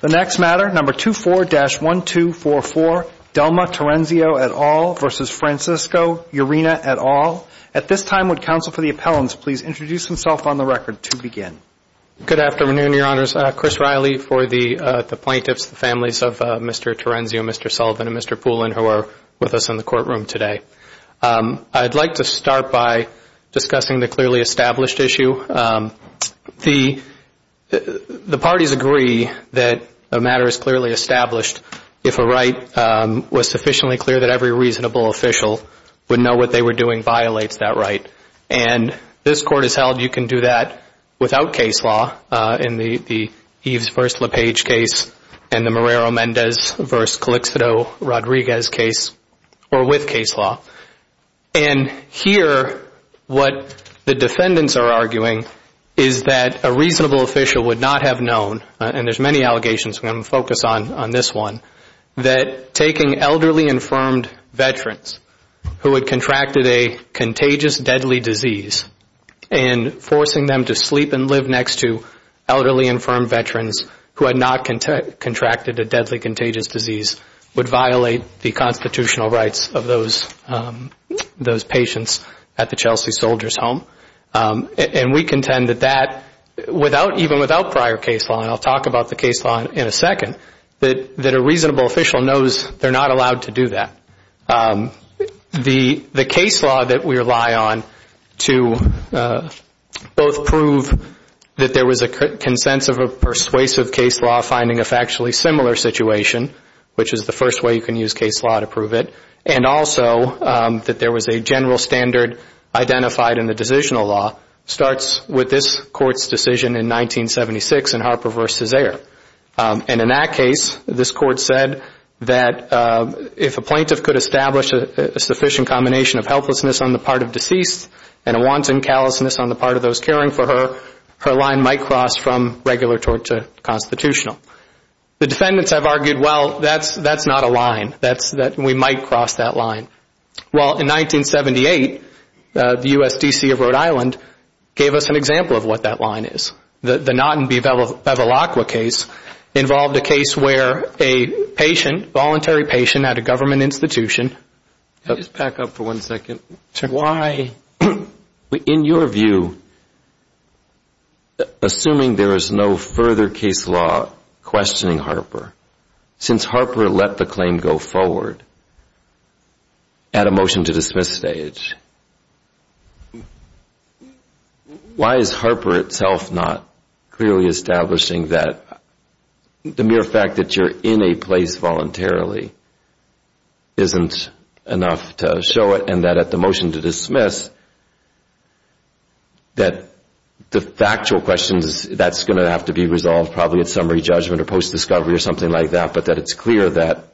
The next matter, number 24-1244, Delma Terenzio et al. v. Francisco Urena et al. At this time, would counsel for the appellants please introduce themselves on the record to begin? Good afternoon, Your Honors. Chris Riley for the plaintiffs, the families of Mr. Terenzio, Mr. Sullivan, and Mr. Poulin, who are with us in the courtroom today. I'd like to start by discussing the clearly established issue. The parties agree that the matter is clearly established if a right was sufficiently clear that every reasonable official would know what they were doing violates that right. And this court has held you can do that without case law in the Eves v. LePage case and the Morero-Mendez v. Calixido-Rodriguez case or with case law. And here, what the defendants are arguing is that a reasonable official would not have known, and there's many allegations and I'm going to focus on this one, that taking elderly infirmed veterans who had contracted a contagious deadly disease and forcing them to sleep and live next to elderly infirmed veterans who had not contracted a deadly contagious disease would violate the constitutional rights of those patients at the Chelsea Soldier's Home. And we contend that that, even without prior case law, and I'll talk about the case law in a second, that a reasonable official knows they're not allowed to do that. The case law that we rely on to both prove that there was a consensus of persuasive case law finding a factually similar situation, which is the first way you can use case law to prove it, and also that there was a general standard identified in the decisional law, starts with this court's decision in 1976 in Harper v. Ayer. And in that case, this court said that if a plaintiff could establish a sufficient combination of helplessness on the part of deceased and a wanton callousness on the part of those caring for her, her line might cross from regular tort to constitutional. The defendants have argued, well, that's not a line. We might cross that line. Well, in 1978, the U.S. D.C. of Rhode Island gave us an example of what that line is. The Notton v. Bevilacqua case involved a case where a patient, voluntary patient, had a government institution. Can I just back up for one second? Sure. Why, in your view, assuming there is no further case law questioning Harper, since Harper let the claim go forward at a motion to dismiss stage, why is Harper itself not clearly establishing that the mere fact that you're in a place voluntarily isn't enough to show it, and that at the motion to dismiss, that the factual questions, that's going to have to be resolved probably at summary judgment or post-discovery or something like that, but that it's clear that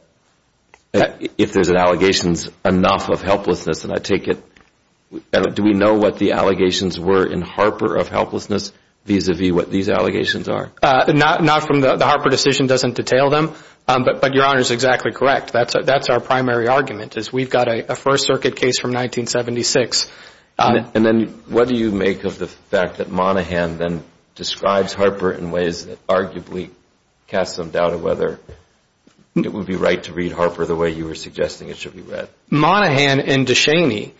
if there's an allegations enough of helplessness, and I take it, do we know what the allegations were in Harper of helplessness vis-à-vis what these allegations are? Not from the Harper decision doesn't detail them, but Your Honor is exactly correct. That's our primary argument is we've got a First Circuit case from 1976. And then what do you make of the fact that Monaghan then describes Harper in ways that arguably cast some doubt of whether it would be right to read Harper the way you were suggesting it should be read? Monaghan and Deshani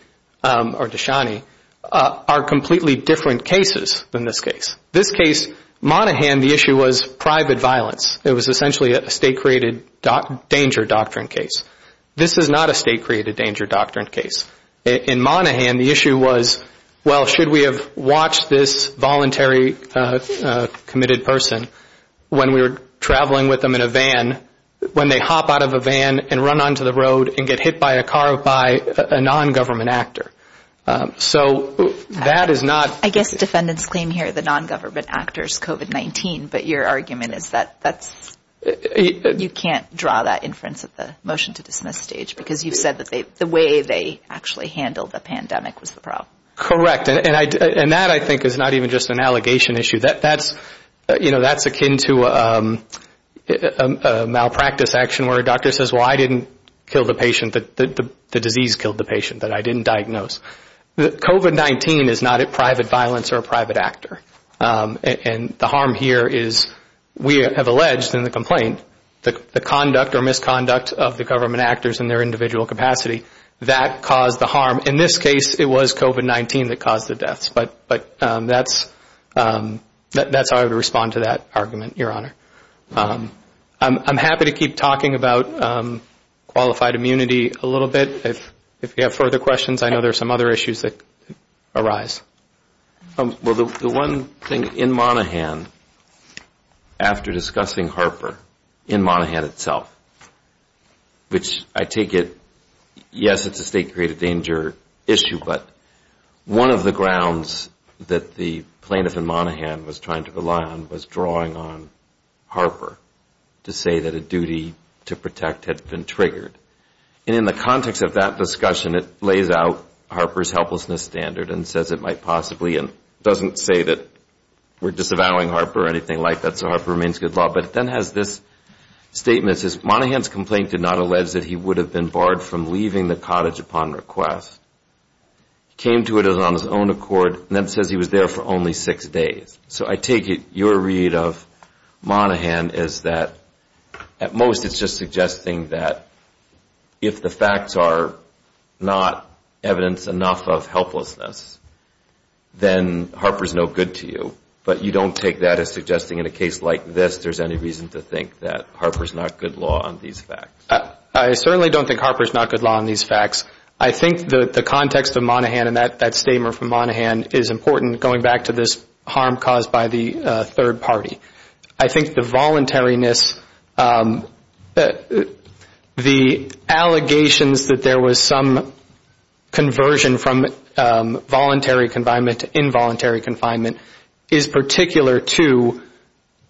are completely different cases than this case. This case, Monaghan, the issue was private violence. It was essentially a state-created danger doctrine case. This is not a state-created danger doctrine case. In Monaghan, the issue was, well, should we have watched this voluntary committed person when we were traveling with them in a van, when they hop out of a van and run onto the road and get hit by a car by a nongovernment actor? So that is not – I guess defendants claim here the nongovernment actor is COVID-19, but your argument is that that's – You can't draw that inference at the motion to dismiss stage because you said the way they actually handled the pandemic was the problem. Correct. And that, I think, is not even just an allegation issue. That's akin to a malpractice action where a doctor says, well, I didn't kill the patient. The disease killed the patient that I didn't diagnose. COVID-19 is not a private violence or a private actor. And the harm here is we have alleged in the complaint the conduct or misconduct of the government actors in their individual capacity. That caused the harm. In this case, it was COVID-19 that caused the deaths. But that's how I would respond to that argument, Your Honor. I'm happy to keep talking about qualified immunity a little bit. If you have further questions, I know there are some other issues that arise. Well, the one thing in Monaghan, after discussing Harper in Monaghan itself, which I take it, yes, it's a state-created danger issue, but one of the grounds that the plaintiff in Monaghan was trying to rely on was drawing on Harper to say that a duty to protect had been triggered. And in the context of that discussion, it lays out Harper's helplessness standard and says it might possibly, and doesn't say that we're disavowing Harper or anything like that, so Harper remains good law, but then has this statement that says, Monaghan's complaint did not allege that he would have been barred from leaving the cottage upon request. He came to it on his own accord, and then says he was there for only six days. So I take it your read of Monaghan is that at most it's just suggesting that if the facts are not evidence enough of helplessness, then Harper's no good to you. But you don't take that as suggesting in a case like this there's any reason to think that Harper's not good law on these facts? I certainly don't think Harper's not good law on these facts. I think the context of Monaghan and that statement from Monaghan is important going back to this harm caused by the third party. I think the voluntariness, the allegations that there was some conversion from voluntary confinement to involuntary confinement is particular to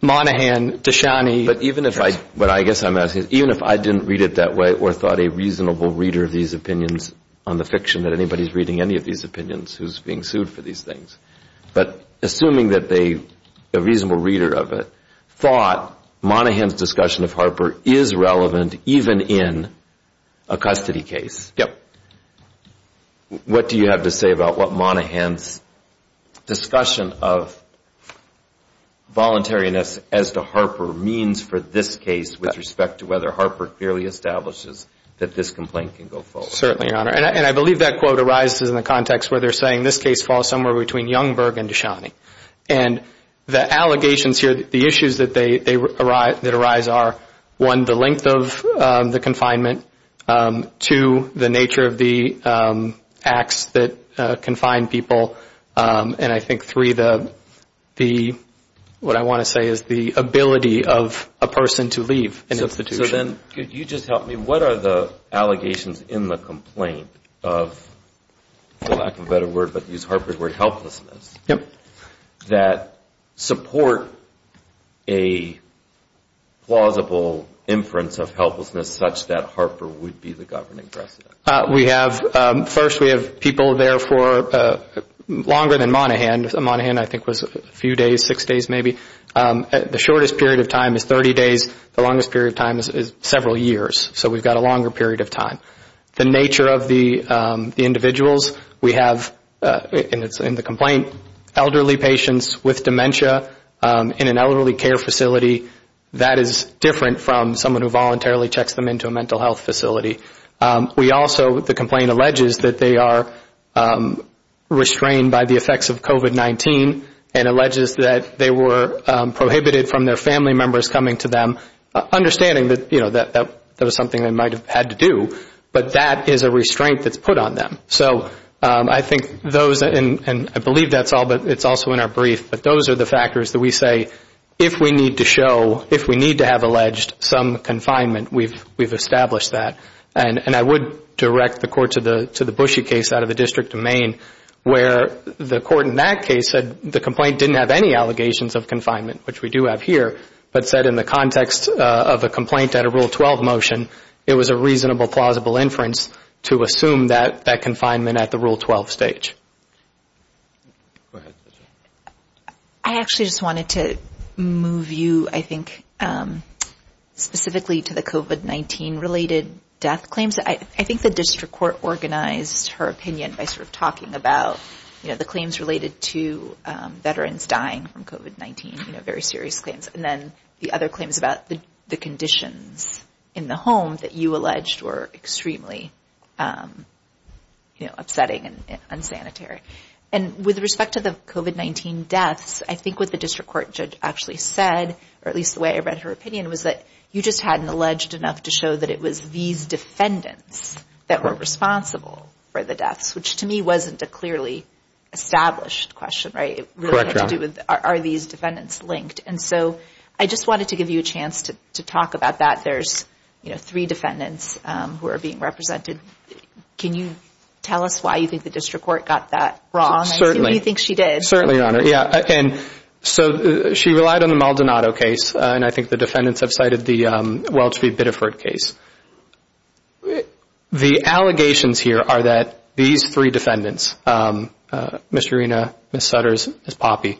Monaghan, but even if I didn't read it that way or thought a reasonable reader of these opinions on the fiction that anybody's reading any of these opinions who's being sued for these things, but assuming that a reasonable reader of it thought Monaghan's discussion of Harper is relevant even in a custody case, what do you have to say about what Monaghan's discussion of voluntariness as to Harper means for this case with respect to whether Harper clearly establishes that this complaint can go forward? Certainly, Your Honor, and I believe that quote arises in the context where they're saying this case falls somewhere between Youngberg and Deshani. And the allegations here, the issues that arise are, one, the length of the confinement, two, the nature of the acts that confine people, and I think, three, what I want to say is the ability of a person to leave an institution. So then could you just help me, what are the allegations in the complaint of, for lack of a better word, but to use Harper's word, helplessness, that support a plausible inference of helplessness such that Harper would be the governing precedent? We have, first we have people there for longer than Monaghan, Monaghan I think was a few days, six days maybe. The shortest period of time is 30 days, the longest period of time is several years, so we've got a longer period of time. The nature of the individuals we have in the complaint, elderly patients with dementia in an elderly care facility, that is different from someone who voluntarily checks them into a mental health facility. We also, the complaint alleges that they are restrained by the effects of COVID-19 and alleges that they were prohibited from their family members coming to them, understanding that that was something they might have had to do, but that is a restraint that's put on them. So I think those, and I believe that's all, but it's also in our brief, but those are the factors that we say if we need to show, if we need to have alleged some confinement, we've established that. And I would direct the court to the Bushey case out of the District of Maine where the court in that case said the complaint didn't have any allegations of confinement, which we do have here, but said in the context of a complaint at a Rule 12 motion, it was a reasonable, plausible inference to assume that confinement at the Rule 12 stage. Go ahead. I actually just wanted to move you, I think, specifically to the COVID-19 related death claims. I think the district court organized her opinion by sort of talking about the claims related to veterans dying from COVID-19, very serious claims, and then the other claims about the conditions in the home that you alleged were extremely upsetting and unsanitary. And with respect to the COVID-19 deaths, I think what the district court judge actually said, or at least the way I read her opinion, was that you just hadn't alleged enough to show that it was these defendants that were responsible for the deaths, which to me wasn't a clearly established question, right? It really had to do with are these defendants linked? And so I just wanted to give you a chance to talk about that. You said that there's three defendants who are being represented. Can you tell us why you think the district court got that wrong? And who do you think she did? Certainly, Your Honor. So she relied on the Maldonado case, and I think the defendants have cited the Welch v. Biddeford case. The allegations here are that these three defendants, Ms. Serena, Ms. Sutters, Ms. Poppy,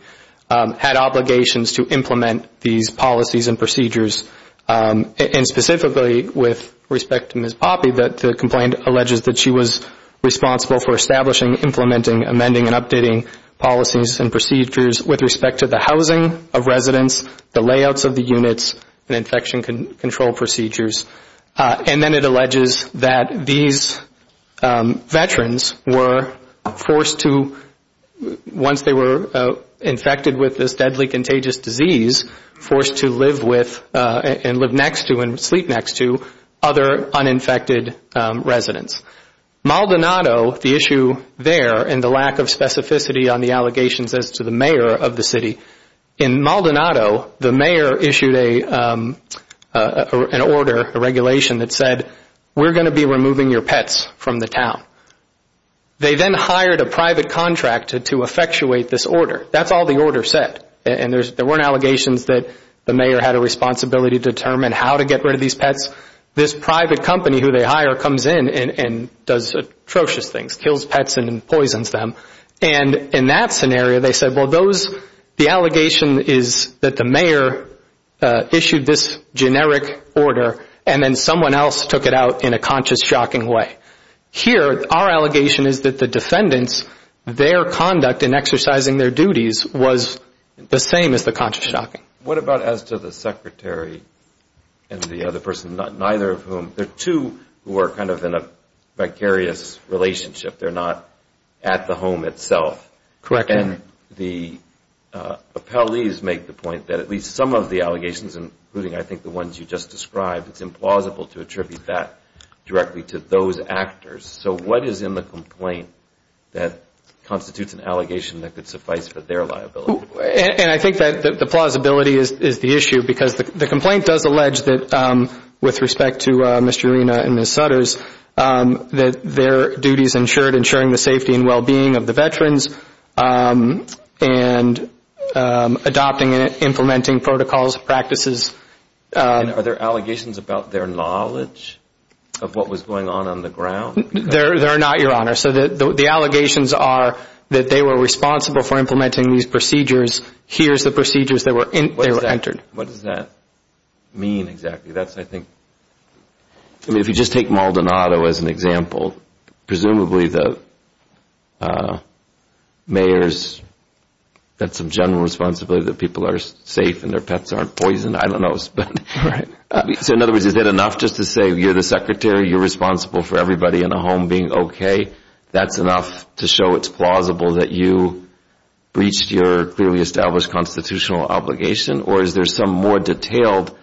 had obligations to implement these policies and procedures. And specifically with respect to Ms. Poppy, the complaint alleges that she was responsible for establishing, implementing, amending, and updating policies and procedures with respect to the housing of residents, the layouts of the units, and infection control procedures. And then it alleges that these veterans were forced to, once they were infected with this deadly contagious disease, forced to live with and live next to and sleep next to other uninfected residents. Maldonado, the issue there and the lack of specificity on the allegations as to the mayor of the city, in Maldonado, the mayor issued an order, a regulation that said, we're going to be removing your pets from the town. They then hired a private contractor to effectuate this order. That's all the order said. And there weren't allegations that the mayor had a responsibility to determine how to get rid of these pets. This private company who they hire comes in and does atrocious things, kills pets and poisons them. And in that scenario, they said, well, those, the allegation is that the mayor issued this generic order and then someone else took it out in a conscious, shocking way. Here, our allegation is that the defendants, their conduct in exercising their duties was the same as the conscious shocking. What about as to the secretary and the other person, neither of whom, there are two who are kind of in a vicarious relationship. They're not at the home itself. And the appellees make the point that at least some of the allegations, including I think the ones you just described, it's implausible to attribute that directly to those actors. So what is in the complaint that constitutes an allegation that could suffice for their liability? And I think that the plausibility is the issue because the complaint does allege that with respect to Mr. Arena and Ms. Sutters, that their duties ensured ensuring the safety and well-being of the veterans and adopting and implementing protocols, practices. And are there allegations about their knowledge of what was going on on the ground? They're not, Your Honor. So the allegations are that they were responsible for implementing these procedures. Here's the procedures that were entered. What does that mean exactly? That's, I think, I mean, if you just take Maldonado as an example, presumably the mayor's got some general responsibility that people are safe and their pets aren't poisoned. I don't know. So in other words, is it enough just to say you're the secretary, you're responsible for everybody in the home being okay? That's enough to show it's plausible that you breached your clearly established constitutional obligation? Or is there some more detailed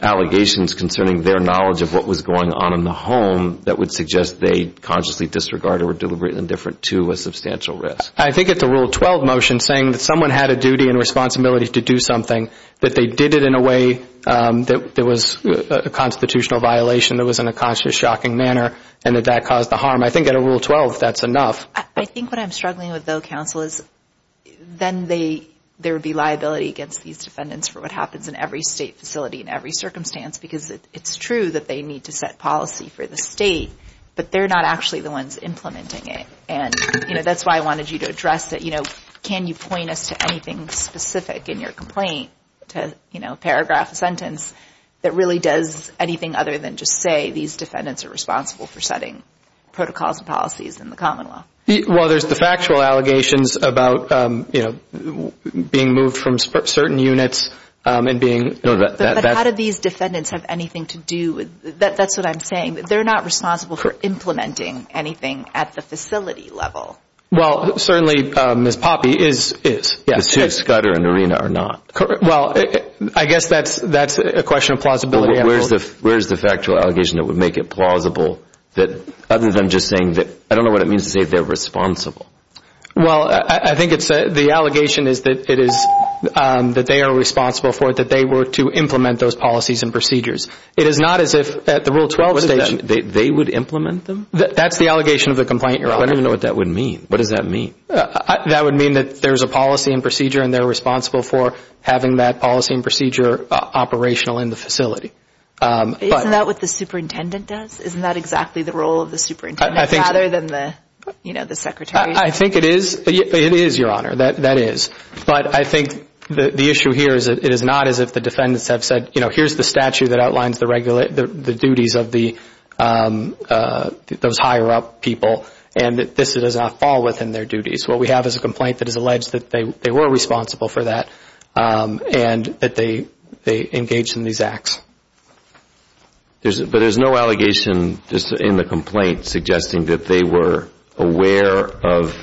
allegations concerning their knowledge of what was going on in the home that would suggest that they consciously disregarded or were deliberately indifferent to a substantial risk? I think it's a Rule 12 motion saying that someone had a duty and responsibility to do something, that they did it in a way that was a constitutional violation, that was in a conscious, shocking manner, and that that caused the harm. I think under Rule 12, that's enough. I think what I'm struggling with, though, counsel, is then there would be liability against these defendants for what happens in every state facility, in every circumstance, because it's true that they need to set policy for the state, but they're not actually the ones implementing it. And that's why I wanted you to address it. Can you point us to anything specific in your complaint to paragraph a sentence that really does anything other than just say, these defendants are responsible for setting protocols and policies in the common law? Well, there's the factual allegations about, you know, being moved from certain units and being... But how do these defendants have anything to do with... That's what I'm saying. They're not responsible for implementing anything at the facility level. Well, certainly, Ms. Poppe is. Yes. It's true, Scudder and Arena are not. Well, I guess that's a question of plausibility. Where's the factual allegation that would make it plausible, other than just saying that... I don't know what it means to say they're responsible. Well, I think the allegation is that they are responsible for it, that they were to implement those policies and procedures. It is not as if at the Rule 12... They would implement them? That's the allegation of the complaint you're on. I don't even know what that would mean. What does that mean? That would mean that there's a policy and procedure, and they're responsible for having that policy and procedure operational in the facility. Isn't that what the superintendent does? Isn't that exactly the role of the superintendent, rather than the secretary? I think it is, Your Honor. That is. But I think the issue here is that it is not as if the defendants have said, you know, here's the statute that outlines the duties of those higher-up people, and this does not fall within their duties. What we have is a complaint that has alleged that they were responsible for that, and that they engaged in these acts. But there's no allegation in the complaint suggesting that they were aware of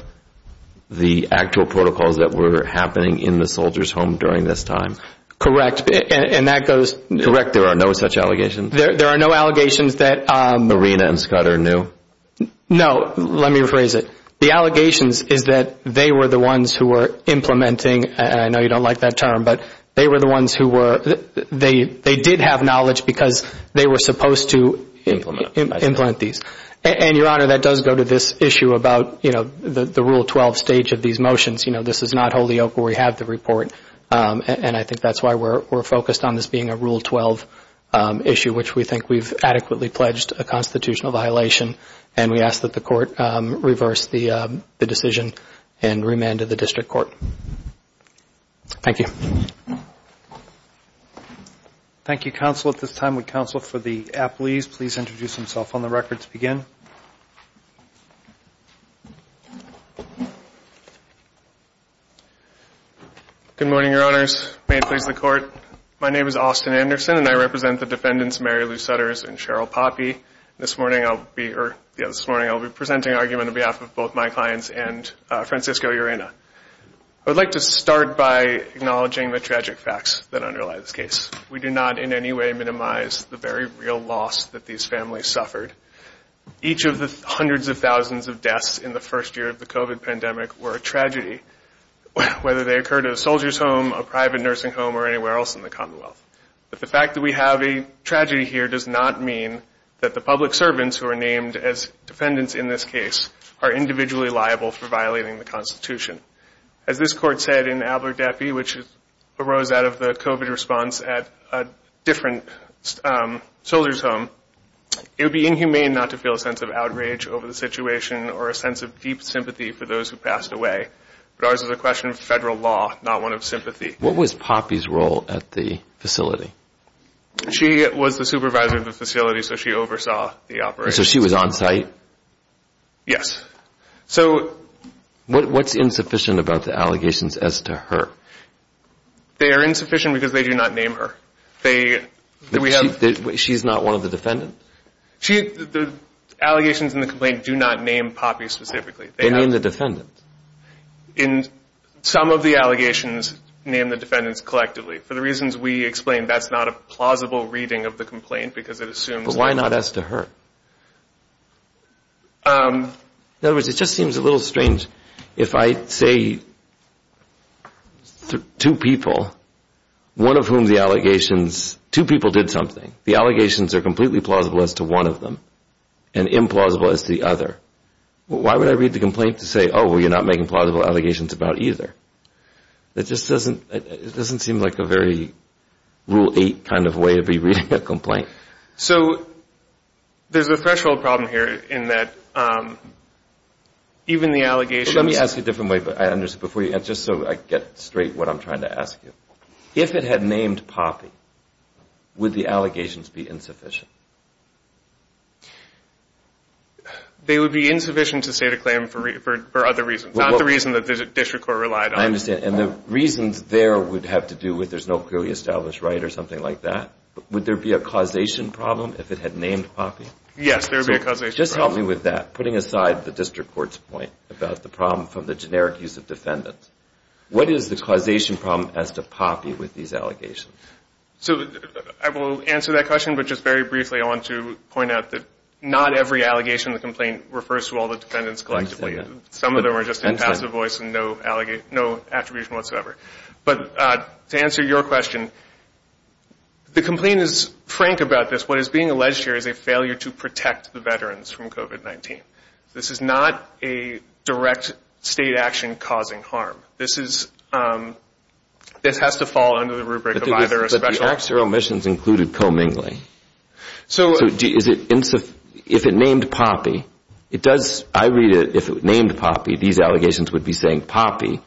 the actual protocols that were happening in the soldiers' home during this time? Correct, and that goes... Correct, there are no such allegations? There are no allegations that... Marina and Scudder knew? No, let me rephrase it. The allegations is that they were the ones who were implementing, and I know you don't like that term, but they were the ones who were... They did have knowledge because they were supposed to... Implement these. And, Your Honor, that does go to this issue about, you know, the Rule 12 stage of these motions. You know, this is not Holyoke where we have the report, and I think that's why we're focused on this being a Rule 12 issue, which we think we've adequately pledged a constitutional violation, and we ask that the Court reverse the decision and remand it to the District Court. Thank you. Thank you, counsel. At this time, would counsel for the appellees please introduce themselves on the record to begin? Good morning, Your Honors. May it please the Court? My name is Austin Anderson, and I represent the defendants Mary Lou Sutters and Cheryl Poppe. This morning I'll be presenting argument on behalf of both my clients and Francisco Urena. I would like to start by acknowledging the tragic facts that underlie this case. We do not in any way minimize the very real loss that these families suffered. Each of the hundreds of thousands of deaths in the first year of the COVID pandemic were a tragedy, whether they occurred at a soldier's home, a private nursing home, or anywhere else in the Commonwealth. But the fact that we have a tragedy here does not mean that the public servants who are named as defendants in this case are individually liable for violating the Constitution. As this Court said in Adler Depy, which arose out of the COVID response at a different soldier's home, it would be inhumane not to feel a sense of outrage over the situation or a sense of deep sympathy for those who passed away. But ours is a question of federal law, not one of sympathy. What was Poppe's role at the facility? She was the supervisor of the facility, so she oversaw the operation. So she was on site? Yes. What's insufficient about the allegations as to her? They are insufficient because they do not name her. She's not one of the defendants? The allegations in the complaint do not name Poppe specifically. They name the defendants. Some of the allegations name the defendants collectively. For the reasons we explained, that's not a plausible reading of the complaint because it assumes... But why not as to her? In other words, it just seems a little strange if I say two people, one of whom the allegations... Two people did something. The allegations are completely plausible as to one of them and implausible as to the other. Why would I read the complaint to say, oh, well, you're not making plausible allegations about either? It just doesn't seem like a very rule eight kind of way to be reading a complaint. So there's a threshold problem here in that even the allegations... Let me ask you a different way. Just so I get straight what I'm trying to ask you. If it had named Poppe, would the allegations be insufficient? They would be insufficient to state a claim for other reasons. Not the reason that the district court relied on. And the reasons there would have to do with there's no clearly established right or something like that? Would there be a causation problem if it had named Poppe? Yes, there would be a causation problem. Putting aside the district court's point about the problem from the generic use of defendants, what is the causation problem as to Poppe with these allegations? I will answer that question, but just very briefly I want to point out that not every allegation in the complaint refers to all the defendants collectively. Some of them are just impassive voice and no attribution whatsoever. But to answer your question, the complaint is frank about this. What is being alleged here is a failure to protect the veterans from COVID-19. This is not a direct state action causing harm. This has to fall under the rubric of either a special... But the acts or omissions included co-mingling. If it named Poppe, I read it, if it named Poppe, these allegations would be saying Poppe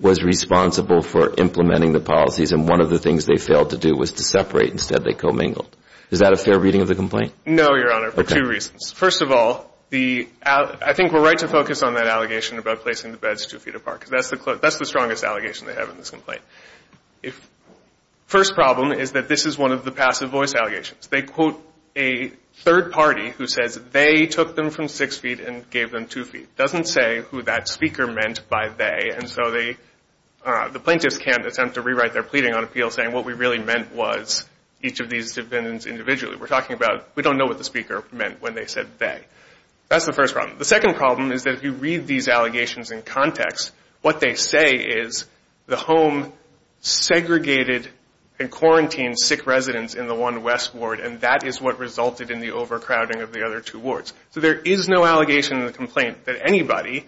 was responsible for implementing the policies and one of the things they failed to do was to separate, instead they co-mingled. Is that a fair reading of the complaint? No, Your Honor, for two reasons. First of all, I think we're right to focus on that allegation about placing the beds two feet apart. That's the strongest allegation they have in this complaint. First problem is that this is one of the passive voice allegations. They quote a third party who says, they took them from six feet and gave them two feet. It doesn't say who that speaker meant by they and so the plaintiffs can't attempt to rewrite their pleading on appeal saying what we really meant was each of these defendants individually. We're talking about, we don't know what the speaker meant when they said they. That's the first problem. The second problem is that if you read these allegations in context, what they say is the home segregated and quarantined sick residents in the one west ward and that is what resulted in the overcrowding of the other two wards. So there is no allegation in the complaint that anybody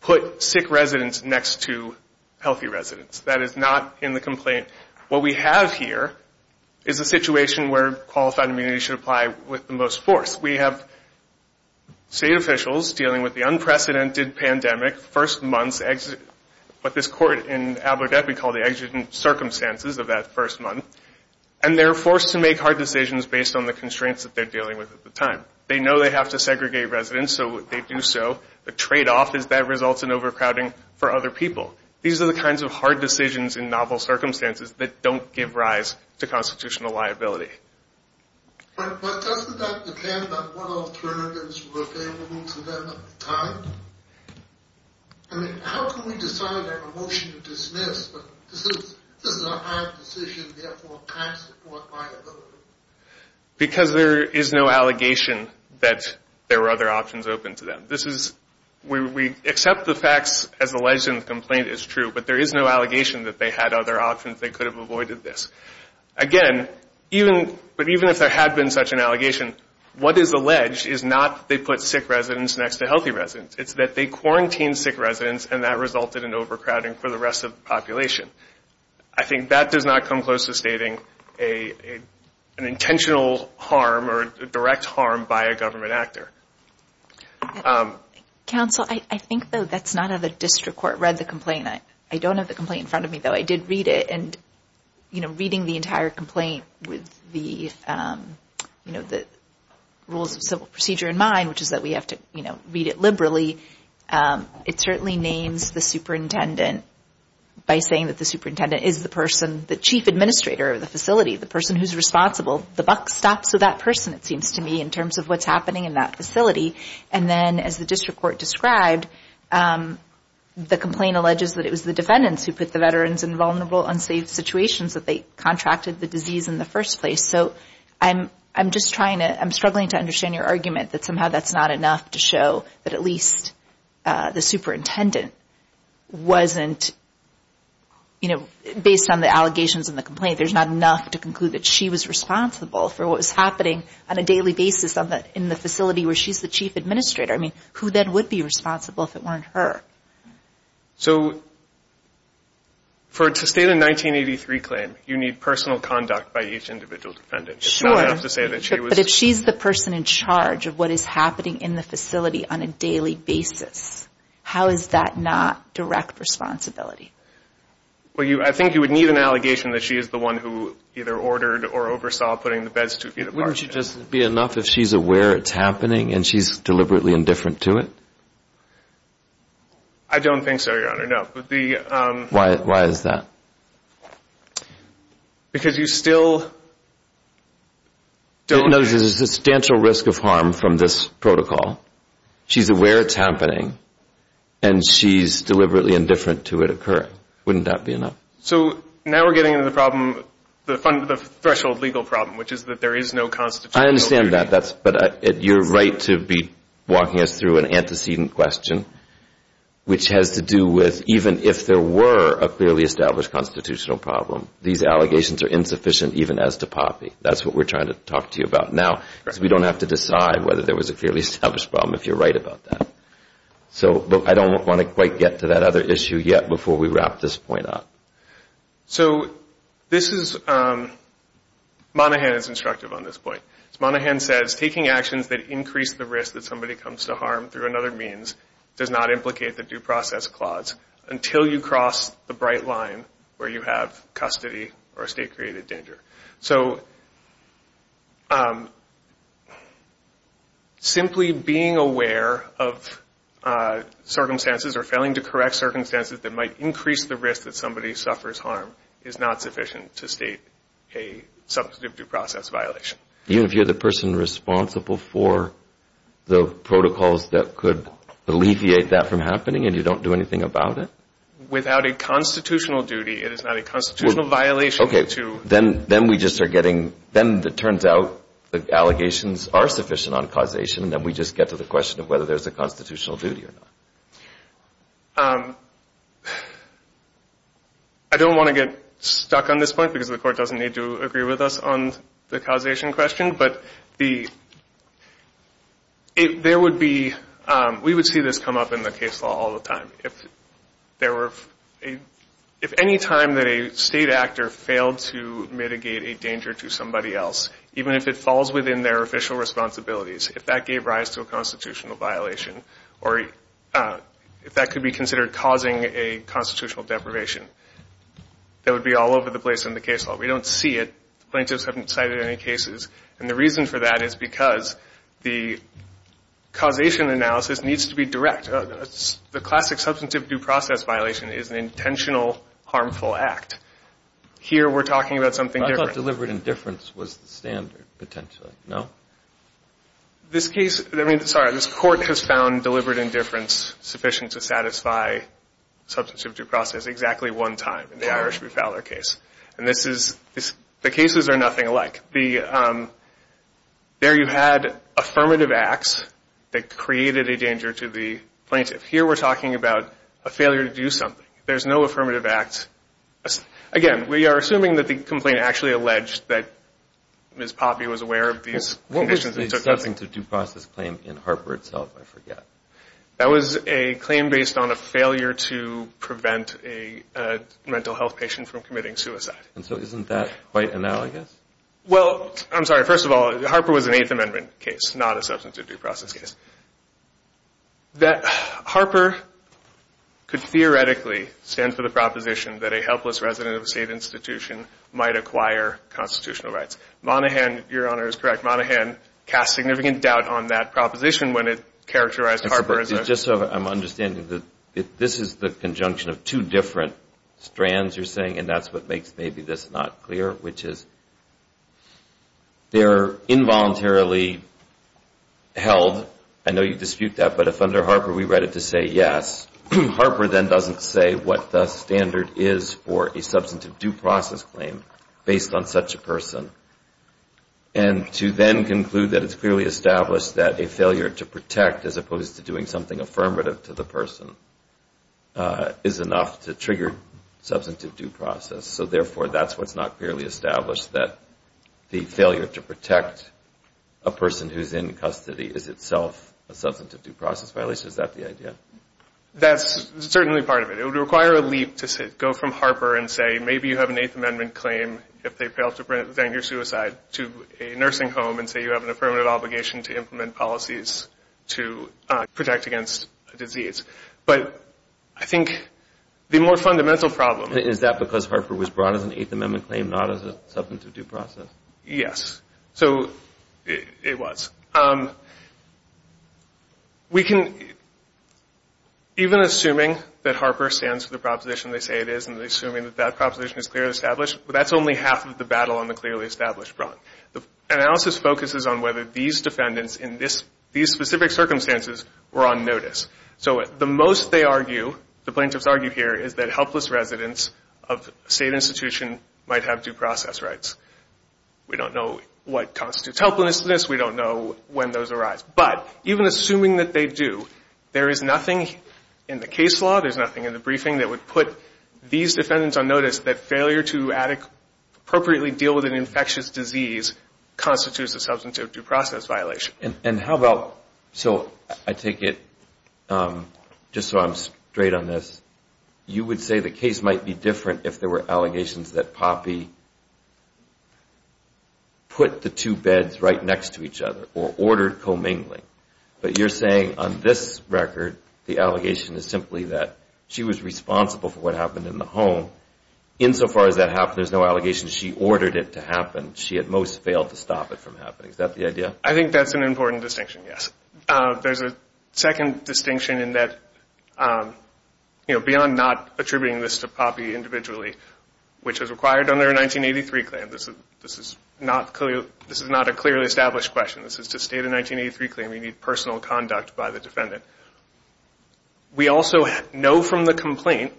put sick residents next to healthy residents. That is not in the complaint. What we have here is a situation where qualified immunity should apply with the most force. We have state officials dealing with the unprecedented pandemic first months, what this court in Abu Dhabi called the circumstances of that first month and they're forced to make hard decisions based on the constraints that they're dealing with at the time. They know they have to segregate residents so they do so. The trade off is that results in overcrowding for other people. These are the kinds of hard decisions in novel circumstances that don't give rise to constitutional liability. But doesn't that depend on what alternatives were available to them at the time? I mean, how can we decide on a motion to dismiss but this is a hard decision, therefore can't support liability? Because there is no allegation that there were other options open to them. We accept the facts as alleged in the complaint is true, but there is no allegation that they had other options they could have avoided this. Again, even if there had been such an allegation, what is alleged is not that they put sick residents next to healthy residents. It's that they quarantined sick residents and that resulted in overcrowding for the rest of the population. I think that does not come close to stating an intentional harm or direct harm by a government actor. Counsel, I think that's not how the district court read the complaint. I don't have the complaint in front of me, though. I did read it and reading the entire complaint with the rules of civil procedure in mind, which is that we have to read it liberally, it certainly names the superintendent by saying that the superintendent is the person, the chief administrator of the facility, the person who's responsible. The buck stops with that person, it seems to me, in terms of what's happening in that facility. And then as the district court described, the complaint alleges that it was the defendants who put the veterans in vulnerable, unsafe situations, that they contracted the disease in the first place. So I'm just trying to, I'm struggling to understand your argument that somehow that's not enough to show that at least the superintendent wasn't, you know, based on the allegations in the complaint, there's not enough to conclude that she was responsible for what was happening on a daily basis in the facility where she's the chief administrator. I mean, who then would be responsible if it weren't her? So, to state a 1983 claim, you need personal conduct by each individual defendant. It's not enough to say that she was. But if she's the person in charge of what is happening in the facility on a daily basis, how is that not direct responsibility? Well, I think you would need an allegation that she is the one who either ordered or oversaw putting the beds two feet apart. Wouldn't it just be enough if she's aware it's happening and she's deliberately indifferent to it? I don't think so, Your Honor, no. Why is that? Because you still don't... There's a substantial risk of harm from this protocol. She's aware it's happening and she's deliberately indifferent to it occurring. Wouldn't that be enough? So, now we're getting into the problem, the threshold legal problem, which is that there is no constitutional... I understand that, but you're right to be walking us through an antecedent question which has to do with even if there were a clearly established constitutional problem, these allegations are insufficient even as to poppy. That's what we're trying to talk to you about now because we don't have to decide whether there was a clearly established problem if you're right about that. So, I don't want to quite get to that other issue yet before we wrap this point up. So, this is... Monahan is instructive on this point. Monahan says, taking actions that increase the risk that somebody comes to harm through another means does not implicate the due process clause until you cross the bright line where you have custody or state-created danger. So, simply being aware of circumstances or failing to correct circumstances that might increase the risk that somebody suffers harm is not sufficient to state a substantive due process violation. Even if you're the person responsible for the protocols that could alleviate that from happening and you don't do anything about it? Without a constitutional duty, it is not a constitutional violation to... Okay. Then we just are getting... Then it turns out the allegations are sufficient on causation and then we just get to the question of whether there's a constitutional duty or not. I don't want to get stuck on this point because the Court doesn't need to agree with us on the causation question, but the... There would be... We would see this come up in the case law all the time. If there were... If any time that a state actor failed to mitigate a danger to somebody else, even if it falls within their official responsibilities, if that gave rise to a constitutional violation or if that could be considered causing a constitutional deprivation, that would be all over the place in the case law. We don't see it. Plaintiffs haven't cited any cases. And the reason for that is because the causation analysis needs to be direct. The classic substantive due process violation is an intentional harmful act. Here we're talking about something different. I thought deliberate indifference was the standard, potentially. No? This case... I mean, sorry. This Court has found deliberate indifference sufficient to satisfy substantive due process exactly one time in the Irish v. Fowler case. And this is... The cases are nothing alike. There you had affirmative acts that created a danger to the plaintiff. Here we're talking about a failure to do something. There's no affirmative act. Again, we are assuming that the complaint actually alleged that Ms. Poppe was aware of these conditions. What was the substantive due process claim in Harper itself? I forget. That was a claim based on a failure to prevent a mental health patient from committing suicide. And so isn't that quite analogous? Well, I'm sorry. First of all, Harper was an Eighth Amendment case, not a substantive due process case. Harper could theoretically stand for the proposition that a helpless resident of a state institution might acquire constitutional rights. Monaghan, Your Honor, is correct. Monaghan cast significant doubt on that proposition when it characterized Harper as a... Just so I'm understanding, this is the conjunction of two different strands you're saying, and that's what makes maybe this not clear, which is they're involuntarily held. I know you dispute that, but if under Harper we write it to say yes, Harper then doesn't say what the standard is for a substantive due process claim based on such a person. And to then conclude that it's clearly established that a failure to protect, as opposed to doing something affirmative to the person, is enough to trigger substantive due process. So therefore that's what's not clearly established, that the failure to protect a person who's in custody is itself a substantive due process violation. Is that the idea? That's certainly part of it. It would require a leap to go from Harper and say maybe you have an Eighth Amendment claim if they failed to prevent your suicide, to a nursing home and say you have an affirmative obligation to implement policies to protect against a disease. But I think the more fundamental problem... Is that because Harper was brought as an Eighth Amendment claim, not as a substantive due process? Yes. So it was. We can... Even assuming that Harper stands for the proposition they say it is, and assuming that that proposition is clearly established, that's only half of the battle on the clearly established front. The analysis focuses on whether these defendants in these specific circumstances were on notice. So the most they argue, the plaintiffs argue here, is that helpless residents of a state institution might have due process rights. We don't know what constitutes helplessness. We don't know when those arise. But even assuming that they do, there is nothing in the case law, there's nothing in the briefing that would put these defendants on notice that failure to appropriately deal with an infectious disease constitutes a substantive due process violation. And how about... So I take it just so I'm straight on this, you would say the case might be different if there were allegations that Poppy put the two beds right next to each other or ordered co-mingling. But you're saying on this record the allegation is simply that she was responsible for what happened in the home. Insofar as that happened, there's no allegation that she ordered it to happen. She at most failed to stop it from happening. Is that the idea? I think that's an important distinction, yes. There's a second distinction in that beyond not attributing this to Poppy individually, which is required under a 1983 claim. This is not a clearly established question. This is to state a 1983 claim you need personal conduct by the defendant. We also know from the complaint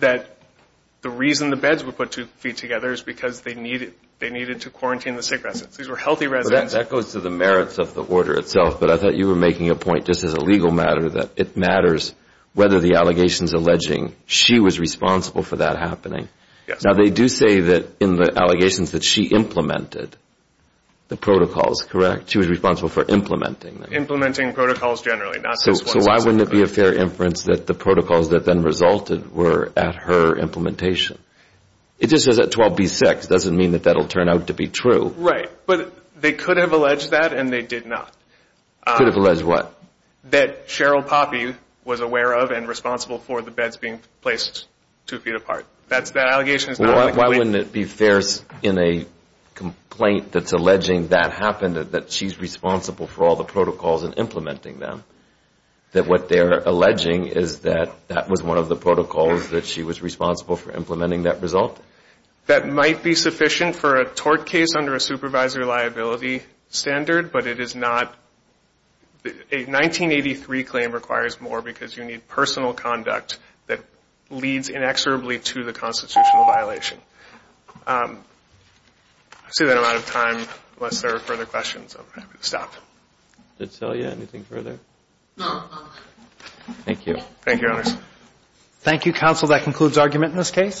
that the reason the beds were put two feet together is because they needed to quarantine the sick residents. These were healthy residents. That goes to the merits of the order itself, but I thought you were making a point, just as a legal matter, that it matters whether the allegations alleging she was responsible for that happening. Now they do say that in the allegations that she implemented the protocols, correct? She was responsible for implementing them. Implementing protocols generally. So why wouldn't it be a fair inference that the protocols that then resulted were at her implementation? It just says that 12B-6. It doesn't mean that that will turn out to be true. Right, but they could have alleged that and they did not. Could have alleged what? That Cheryl Poppy was aware of and responsible for the beds being placed two feet apart. That allegation is not on the complaint. Why wouldn't it be fair in a complaint that's alleging that happened, that she's responsible for all the protocols and implementing them, that what they're alleging is that that was one of the protocols that she was responsible for implementing that result? That might be sufficient for a tort case under a supervisory liability standard, but it is not. A 1983 claim requires more because you need personal conduct that leads inexorably to the constitutional violation. I see that I'm out of time unless there are further questions. I'm happy to stop. Thank you.